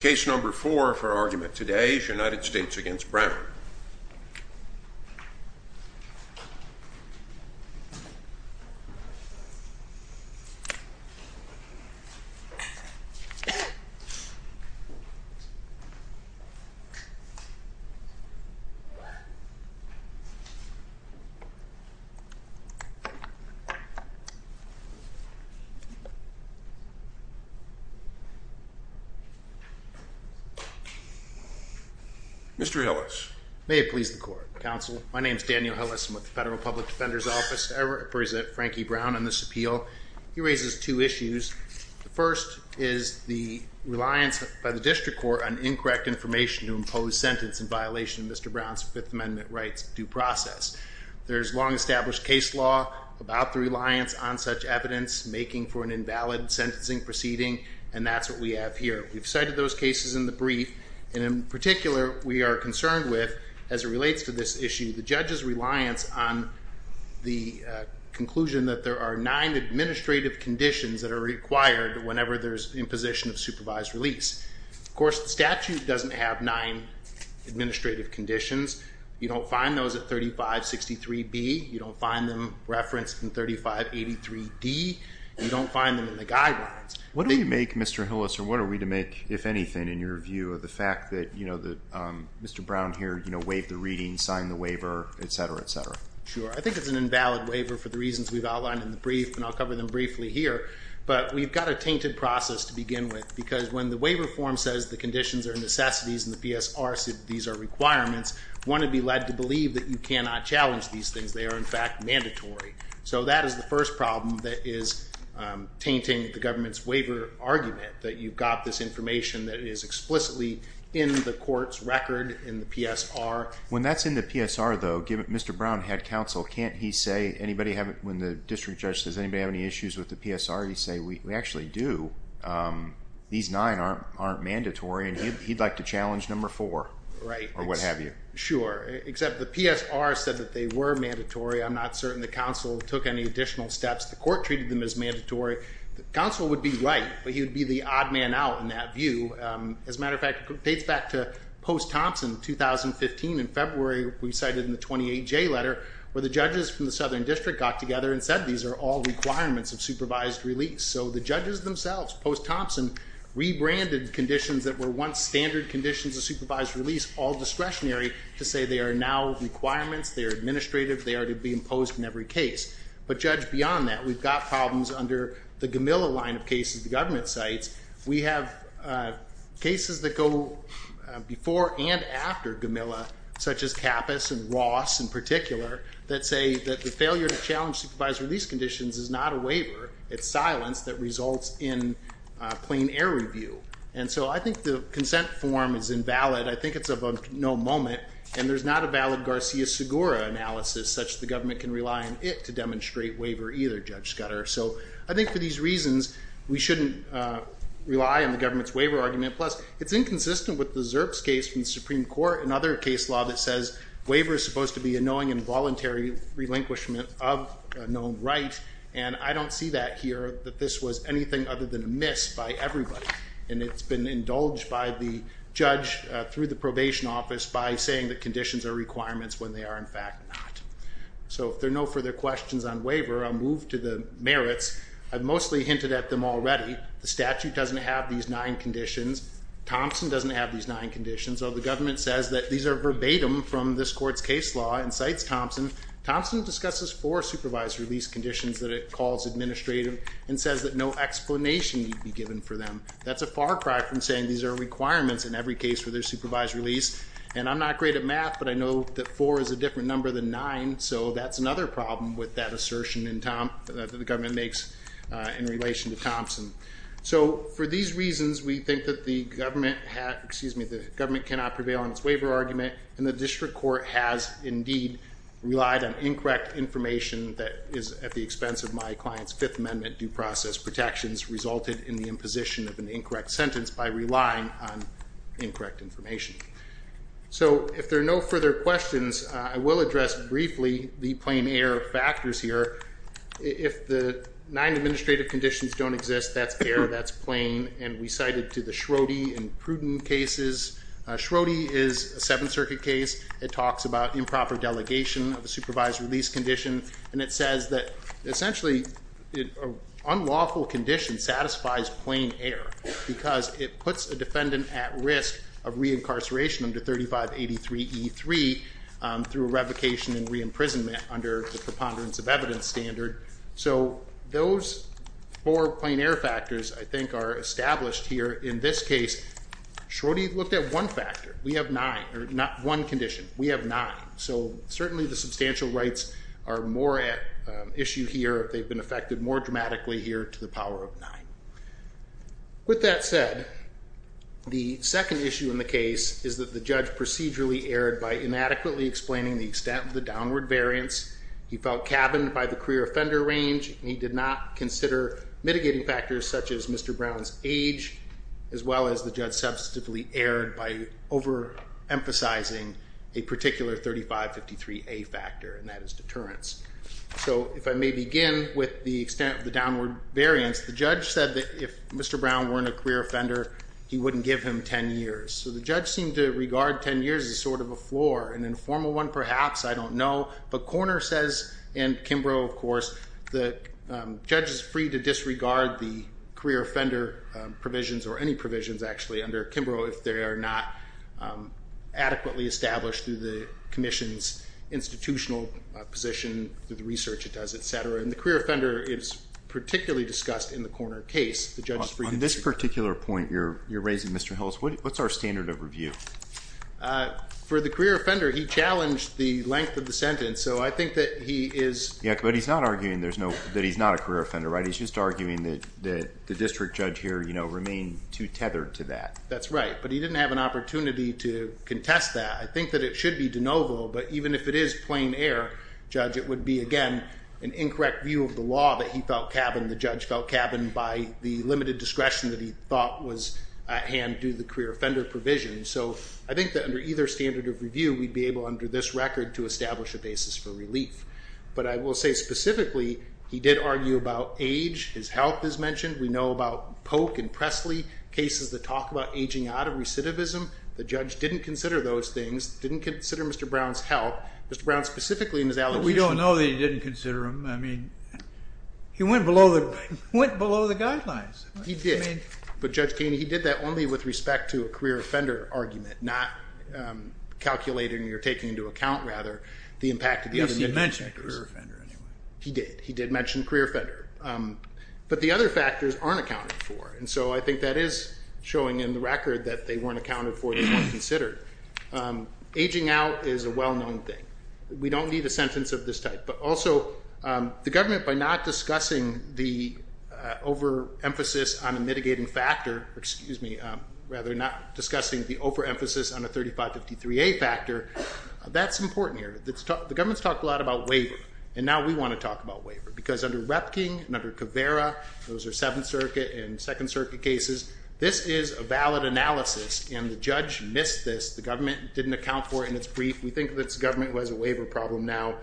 Case number four for argument today is United States v. Brown Mr. Hillis. May it please the court. Counsel, my name is Daniel Hillis. I'm with the Federal Public Defender's Office. I represent Frankie Brown on this appeal. He raises two issues. The first is the reliance by the district court on incorrect information to impose sentence in violation of Mr. Brown's Fifth Amendment rights due process. There's long established case law about the reliance on such evidence making for an invalid sentencing proceeding and that's what we have here. We've cited those cases in the brief and in particular we are concerned with, as it relates to this issue, the judge's reliance on the conclusion that there are nine administrative conditions that are required whenever there's imposition of supervised release. Of course, the statute doesn't have nine administrative conditions. You don't find those at 3563B. You don't find them referenced in 3583D. You don't find them in the guidelines. What do we make, Mr. Hillis, or what are we to make, if anything, in your view of the fact that Mr. Brown here waived the reading, signed the waiver, etc., etc.? Sure. I think it's an invalid waiver for the reasons we've outlined in the brief and I'll cover them briefly here. But we've got a tainted process to begin with because when the waiver form says the conditions are necessities and the PSR says these are requirements, one would be led to believe that you cannot challenge these things. They are, in fact, mandatory. So that is the first problem that is tainting the government's waiver argument, that you've got this information that is explicitly in the court's record in the PSR. When that's in the PSR, though, Mr. Brown had counsel. Can't he say, when the district judge says, does anybody have any issues with the PSR, he say, we actually do. These nine aren't mandatory and he'd like to challenge number four or what have you. Right. Sure. Except the PSR said that they were mandatory. I'm not certain the counsel took any additional steps. The court treated them as mandatory. The counsel would be right, but he would be the odd man out in that view. As a matter of fact, it dates back to Post-Thompson, 2015. In February, we cited in the 28J letter where the judges from the Southern District got together and said these are all requirements of supervised release. So the judges themselves, Post-Thompson, rebranded conditions that were once standard conditions of supervised release all discretionary to say they are now requirements, they are administrative, they are to be imposed in every case. But judge, beyond that, we've got problems under the Gamilla line of cases the government cites. We have cases that go before and after Gamilla, such as Kappus and Ross in particular, that say that the failure to challenge supervised release conditions is not a waiver, it's silence that results in plain error review. And so I think the consent form is invalid. I think it's of no moment, and there's not a valid Garcia-Segura analysis such that the government can rely on it to demonstrate waiver either, Judge Scudder. So I think for these reasons, we shouldn't rely on the government's waiver argument. Plus, it's inconsistent with the Zerps case from the Supreme Court, another case law that says waiver is supposed to be a knowing and voluntary relinquishment of a known right. And I don't see that here, that this was anything other than a miss by everybody. And it's been indulged by the judge through the probation office by saying that conditions are requirements when they are in fact not. So if there are no further questions on waiver, I'll move to the merits. I've mostly hinted at them already. The statute doesn't have these nine conditions. Thompson doesn't have these nine conditions. So the government says that these are verbatim from this court's case law and cites Thompson. Thompson discusses four supervised release conditions that it calls administrative and says that no explanation need be given for them. That's a far cry from saying these are requirements in every case for their supervised release. And I'm not great at math, but I know that four is a different number than nine. So that's another problem with that assertion that the government makes in relation to Thompson. So for these reasons, we think that the government cannot prevail on its waiver argument. And the district court has indeed relied on incorrect information that is at the expense of my client's Fifth Amendment due process protections, resulted in the imposition of an incorrect sentence by relying on incorrect information. So if there are no further questions, I will address briefly the plain error factors here. If the nine administrative conditions don't exist, that's error, that's plain. And we cited to the Schrode and Pruden cases. Schrode is a Seventh Circuit case. It talks about improper delegation of a supervised release condition, and it says that essentially an unlawful condition satisfies plain error because it puts a defendant at risk of reincarceration under 3583E3 through revocation and re-imprisonment under the preponderance of evidence standard. So those four plain error factors, I think, are established here. In this case, Schrode looked at one factor. We have nine, or not one condition. We have nine. So certainly the substantial rights are more at issue here. They've been affected more dramatically here to the power of nine. With that said, the second issue in the case is that the judge procedurally erred by inadequately explaining the extent of the downward variance. He felt cabined by the career offender range, and he did not consider mitigating factors such as Mr. Brown's age, as well as the judge substantively erred by overemphasizing a particular 3553A factor, and that is deterrence. So if I may begin with the extent of the downward variance, the judge said that if Mr. Brown weren't a career offender, he wouldn't give him 10 years. So the judge seemed to regard 10 years as sort of a floor, an informal one perhaps, I don't know. But Korner says, and Kimbrough, of course, the judge is free to disregard the career offender provisions, or any provisions actually, under Kimbrough if they are not adequately established through the commission's institutional position, through the research it does, et cetera. And the career offender is particularly discussed in the Korner case. On this particular point you're raising, Mr. Hills, what's our standard of review? For the career offender, he challenged the length of the sentence, so I think that he is. Yeah, but he's not arguing that he's not a career offender, right? He's just arguing that the district judge here remained too tethered to that. That's right, but he didn't have an opportunity to contest that. I think that it should be de novo, but even if it is plain error, judge, it would be, again, an incorrect view of the law that he felt cabined, the judge felt cabined by the limited discretion that he thought was at hand due to the career offender provision. So I think that under either standard of review we'd be able under this record to establish a basis for relief. But I will say specifically he did argue about age, his health is mentioned. We know about Polk and Presley cases that talk about aging out of recidivism. The judge didn't consider those things, didn't consider Mr. Brown's health. Mr. Brown specifically in his allegation. But we don't know that he didn't consider them. I mean, he went below the guidelines. He did. But, Judge Keeney, he did that only with respect to a career offender argument, not calculating or taking into account, rather, the impact of the other individuals. Yes, he did mention a career offender anyway. He did. He did mention a career offender. But the other factors aren't accounted for, and so I think that is showing in the record that they weren't accounted for, they weren't considered. Aging out is a well-known thing. We don't need a sentence of this type. But also, the government, by not discussing the overemphasis on a mitigating factor, excuse me, rather, not discussing the overemphasis on a 3553A factor, that's important here. The government's talked a lot about waiver, and now we want to talk about waiver. Because under Repking and under Caveira, those are Seventh Circuit and Second Circuit cases, this is a valid analysis, and the judge missed this. The government didn't account for it in its brief. We think that the government has a waiver problem now.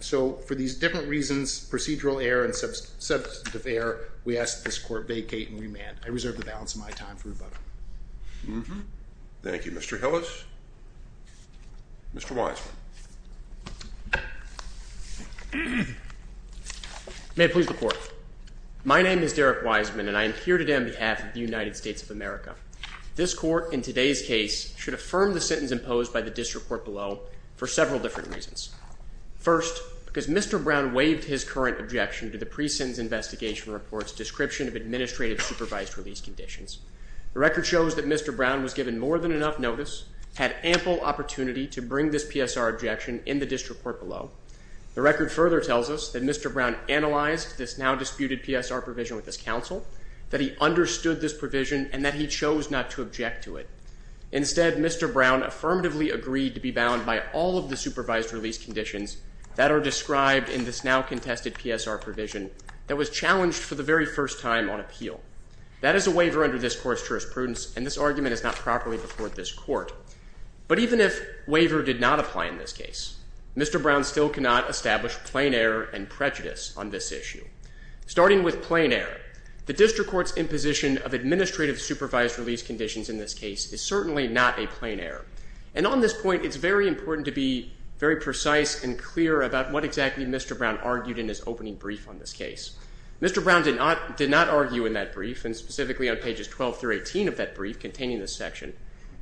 So for these different reasons, procedural error and substantive error, we ask that this court vacate and remand. I reserve the balance of my time for rebuttal. Thank you. Mr. Hillis. Mr. Wiseman. May it please the Court. My name is Derek Wiseman, and I am here today on behalf of the United States of America. This Court, in today's case, should affirm the sentence imposed by the disreport below for several different reasons. First, because Mr. Brown waived his current objection to the pre-sentence investigation report's description of administrative supervised release conditions. The record shows that Mr. Brown was given more than enough notice, had ample opportunity to bring this PSR objection in the disreport below. The record further tells us that Mr. Brown analyzed this now-disputed PSR provision with his counsel, that he understood this provision, and that he chose not to object to it. Instead, Mr. Brown affirmatively agreed to be bound by all of the supervised release conditions that are described in this now-contested PSR provision that was challenged for the very first time on appeal. That is a waiver under this Court's jurisprudence, and this argument is not properly before this Court. But even if waiver did not apply in this case, Mr. Brown still cannot establish plain error and prejudice on this issue. Starting with plain error, the district court's imposition of administrative supervised release conditions in this case is certainly not a plain error. And on this point, it's very important to be very precise and clear about what exactly Mr. Brown argued in his opening brief on this case. Mr. Brown did not argue in that brief, and specifically on pages 12 through 18 of that brief containing this section.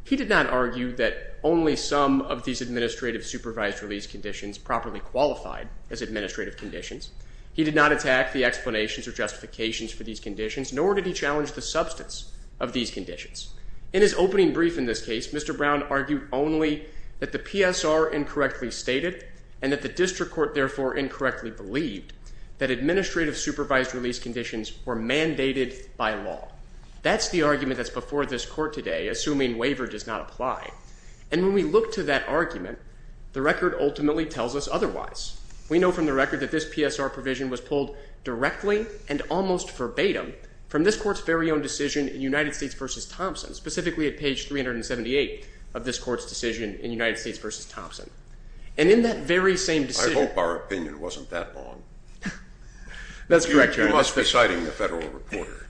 He did not argue that only some of these administrative supervised release conditions properly qualified as administrative conditions. He did not attack the explanations or justifications for these conditions, nor did he challenge the substance of these conditions. In his opening brief in this case, Mr. Brown argued only that the PSR incorrectly stated, and that the district court therefore incorrectly believed, that administrative supervised release conditions were mandated by law. That's the argument that's before this Court today, assuming waiver does not apply. And when we look to that argument, the record ultimately tells us otherwise. We know from the record that this PSR provision was pulled directly and almost verbatim from this Court's very own decision in United States v. Thompson, specifically at page 378 of this Court's decision in United States v. Thompson. And in that very same decision— I hope our opinion wasn't that long. That's correct, Your Honor. We must be citing the federal reporter.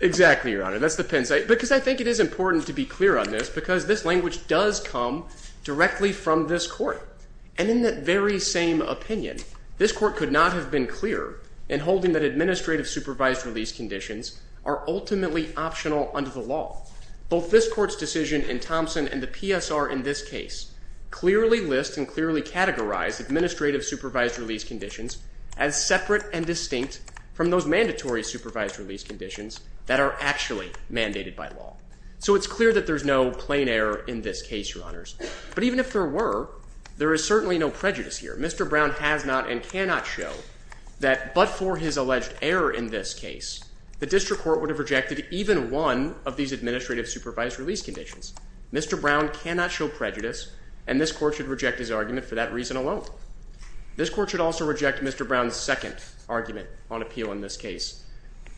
Exactly, Your Honor. That's the pence. Because I think it is important to be clear on this, because this language does come directly from this Court. And in that very same opinion, this Court could not have been clearer in holding that administrative supervised release conditions are ultimately optional under the law. Both this Court's decision in Thompson and the PSR in this case clearly list and clearly categorize administrative supervised release conditions as separate and distinct from those mandatory supervised release conditions that are actually mandated by law. So it's clear that there's no plain error in this case, Your Honors. But even if there were, there is certainly no prejudice here. Mr. Brown has not and cannot show that but for his alleged error in this case, the district court would have rejected even one of these administrative supervised release conditions. Mr. Brown cannot show prejudice, and this Court should reject his argument for that reason alone. This Court should also reject Mr. Brown's second argument on appeal in this case,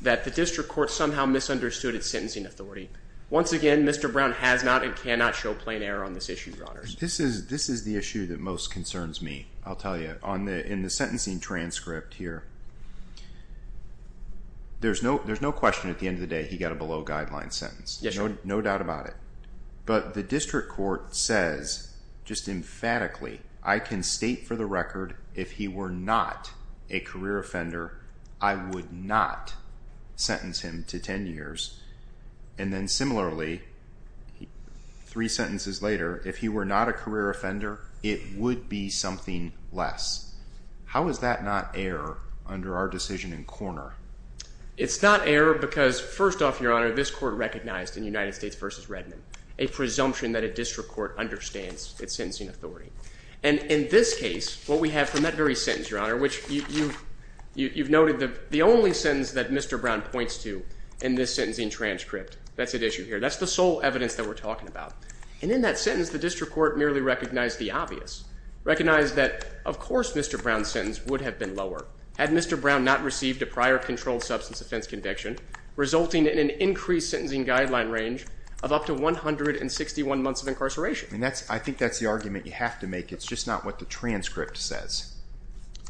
that the district court somehow misunderstood its sentencing authority. Once again, Mr. Brown has not and cannot show plain error on this issue, Your Honors. This is the issue that most concerns me, I'll tell you. In the sentencing transcript here, there's no question at the end of the day he got a below-guideline sentence. No doubt about it. But the district court says, just emphatically, I can state for the record if he were not a career offender, I would not sentence him to 10 years. And then similarly, three sentences later, if he were not a career offender, it would be something less. How is that not error under our decision in Korner? It's not error because, first off, Your Honor, this Court recognized in United States v. Redmond a presumption that a district court understands its sentencing authority. And in this case, what we have from that very sentence, Your Honor, which you've noted the only sentence that Mr. Brown points to in this sentencing transcript, that's at issue here, that's the sole evidence that we're talking about. And in that sentence, the district court merely recognized the obvious, recognized that, of course, Mr. Brown's sentence would have been lower had Mr. Brown not received a prior controlled substance offense conviction, resulting in an increased sentencing guideline range of up to 161 months of incarceration. I think that's the argument you have to make. It's just not what the transcript says.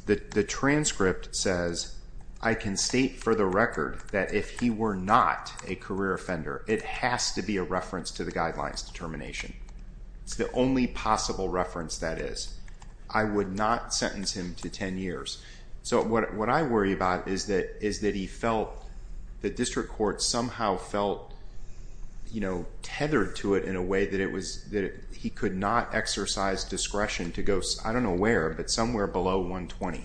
The transcript says, I can state for the record that if he were not a career offender, it has to be a reference to the guidelines determination. It's the only possible reference that is. I would not sentence him to 10 years. So what I worry about is that he felt the district court somehow felt tethered to it in a way that he could not exercise discretion to go, I don't know where, but somewhere below 120.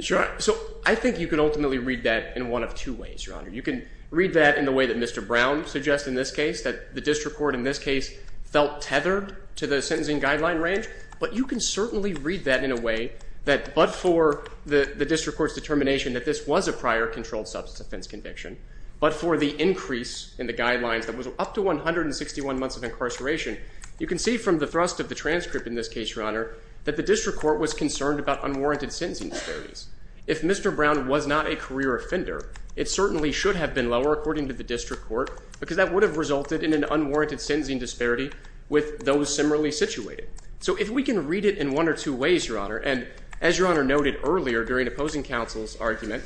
So I think you could ultimately read that in one of two ways, Your Honor. You can read that in the way that Mr. Brown suggests in this case, that the district court in this case felt tethered to the sentencing guideline range, but you can certainly read that in a way that but for the district court's determination that this was a prior controlled substance offense conviction, but for the increase in the guidelines that was up to 161 months of incarceration, you can see from the thrust of the transcript in this case, Your Honor, that the district court was concerned about unwarranted sentencing disparities. If Mr. Brown was not a career offender, it certainly should have been lower according to the district court because that would have resulted in an unwarranted sentencing disparity with those similarly situated. So if we can read it in one or two ways, Your Honor, and as Your Honor noted earlier during opposing counsel's argument,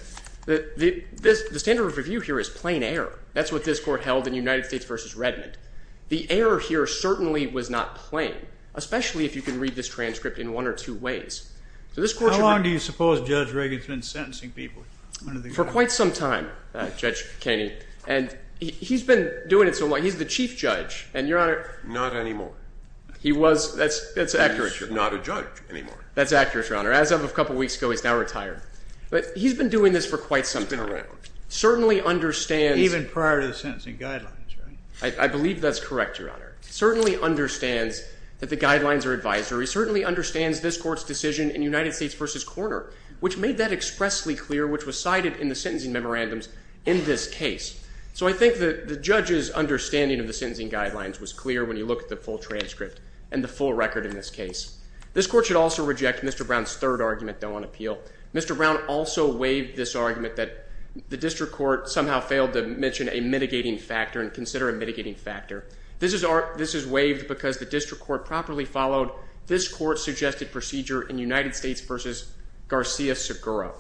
the standard of review here is plain error. That's what this court held in United States v. Redmond. The error here certainly was not plain, especially if you can read this transcript in one or two ways. How long do you suppose Judge Reagan's been sentencing people? For quite some time, Judge Kenney. And he's been doing it so long. He's the chief judge. Not anymore. He was. That's accurate, Your Honor. He's not a judge anymore. That's accurate, Your Honor. As of a couple weeks ago, he's now retired. But he's been doing this for quite some time. He's been around. Certainly understands. Even prior to the sentencing guidelines, right? I believe that's correct, Your Honor. Certainly understands that the guidelines are advisory. Certainly understands this court's decision in United States v. Korner, which made that expressly clear, which was cited in the sentencing memorandums in this case. So I think that the judge's understanding of the sentencing guidelines was clear when you look at the full transcript and the full record in this case. This court should also reject Mr. Brown's third argument, though, on appeal. Mr. Brown also waived this argument that the district court somehow failed to mention a mitigating factor and consider a mitigating factor. This is waived because the district court properly followed this court's suggested procedure in United States v. Garcia-Seguro.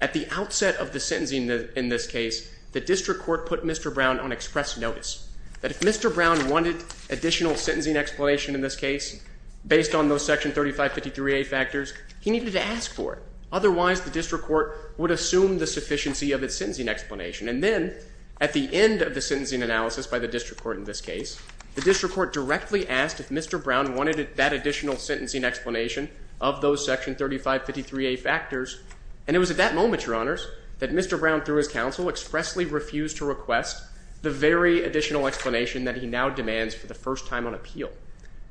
At the outset of the sentencing in this case, the district court put Mr. Brown on express notice that if Mr. Brown wanted additional sentencing explanation in this case based on those section 3553A factors, he needed to ask for it. Otherwise, the district court would assume the sufficiency of its sentencing explanation. And then, at the end of the sentencing analysis by the district court in this case, the district court directly asked if Mr. Brown wanted that additional sentencing explanation of those section 3553A factors, and it was at that moment, Your Honors, that Mr. Brown, through his counsel, expressly refused to request the very additional explanation that he now demands for the first time on appeal.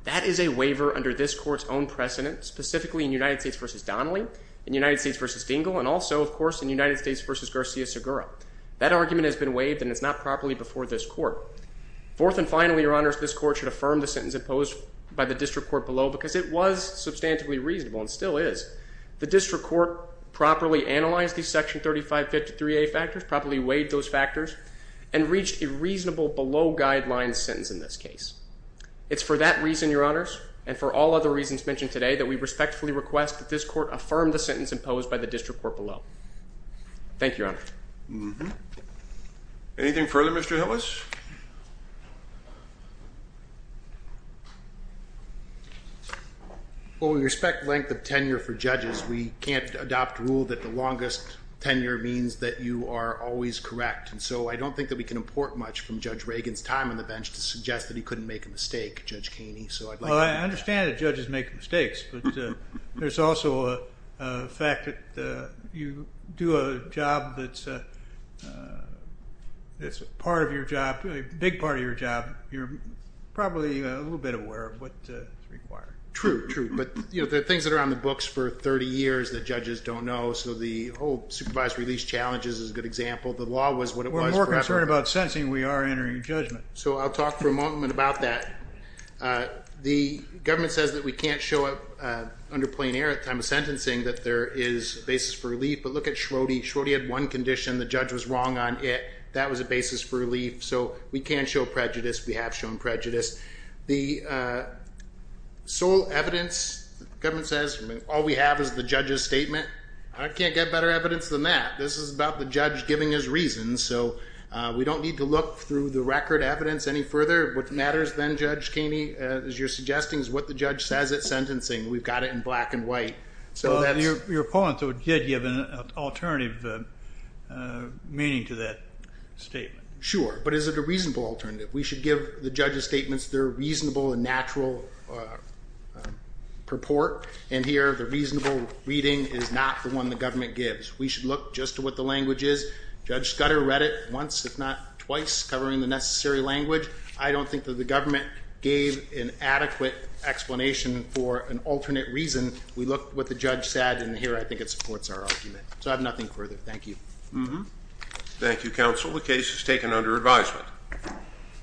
That is a waiver under this court's own precedent, specifically in United States v. Donnelly, in United States v. Dingell, and also, of course, in United States v. Garcia-Seguro. That argument has been waived, and it's not properly before this court. Fourth and finally, Your Honors, this court should affirm the sentence imposed by the district court below because it was substantively reasonable, and still is. The district court properly analyzed these section 3553A factors, properly weighed those factors, and reached a reasonable below guidelines sentence in this case. It's for that reason, Your Honors, and for all other reasons mentioned today, that we respectfully request that this court affirm the sentence imposed by the district court below. Thank you, Your Honor. Anything further, Mr. Hillis? Well, we respect length of tenure for judges. We can't adopt a rule that the longest tenure means that you are always correct. And so I don't think that we can import much from Judge Reagan's time on the bench to suggest that he couldn't make a mistake, Judge Kaney. Well, I understand that judges make mistakes, but there's also a fact that you do a job that's part of your job, a big part of your job. You're probably a little bit aware of what's required. True, true. But there are things that are on the books for 30 years that judges don't know. So the whole supervised release challenges is a good example. The law was what it was forever. We're more concerned about sentencing than we are entering judgment. So I'll talk for a moment about that. The government says that we can't show up under plain air at the time of sentencing, that there is a basis for relief. But look at Schrodinger. Schrodinger had one condition. The judge was wrong on it. That was a basis for relief. So we can't show prejudice. We have shown prejudice. The sole evidence, the government says, all we have is the judge's statement. I can't get better evidence than that. This is about the judge giving his reasons. So we don't need to look through the record evidence any further. What matters then, Judge Kaney, as you're suggesting, is what the judge says at sentencing. We've got it in black and white. Your opponent did give an alternative meaning to that statement. Sure. But is it a reasonable alternative? We should give the judge's statements their reasonable and natural purport. And here the reasonable reading is not the one the government gives. We should look just to what the language is. Judge Scudder read it once, if not twice, covering the necessary language. I don't think that the government gave an adequate explanation for an alternate reason. We looked at what the judge said, and here I think it supports our argument. So I have nothing further. Thank you. Thank you, Counsel. The case is taken under advisement. Thank you.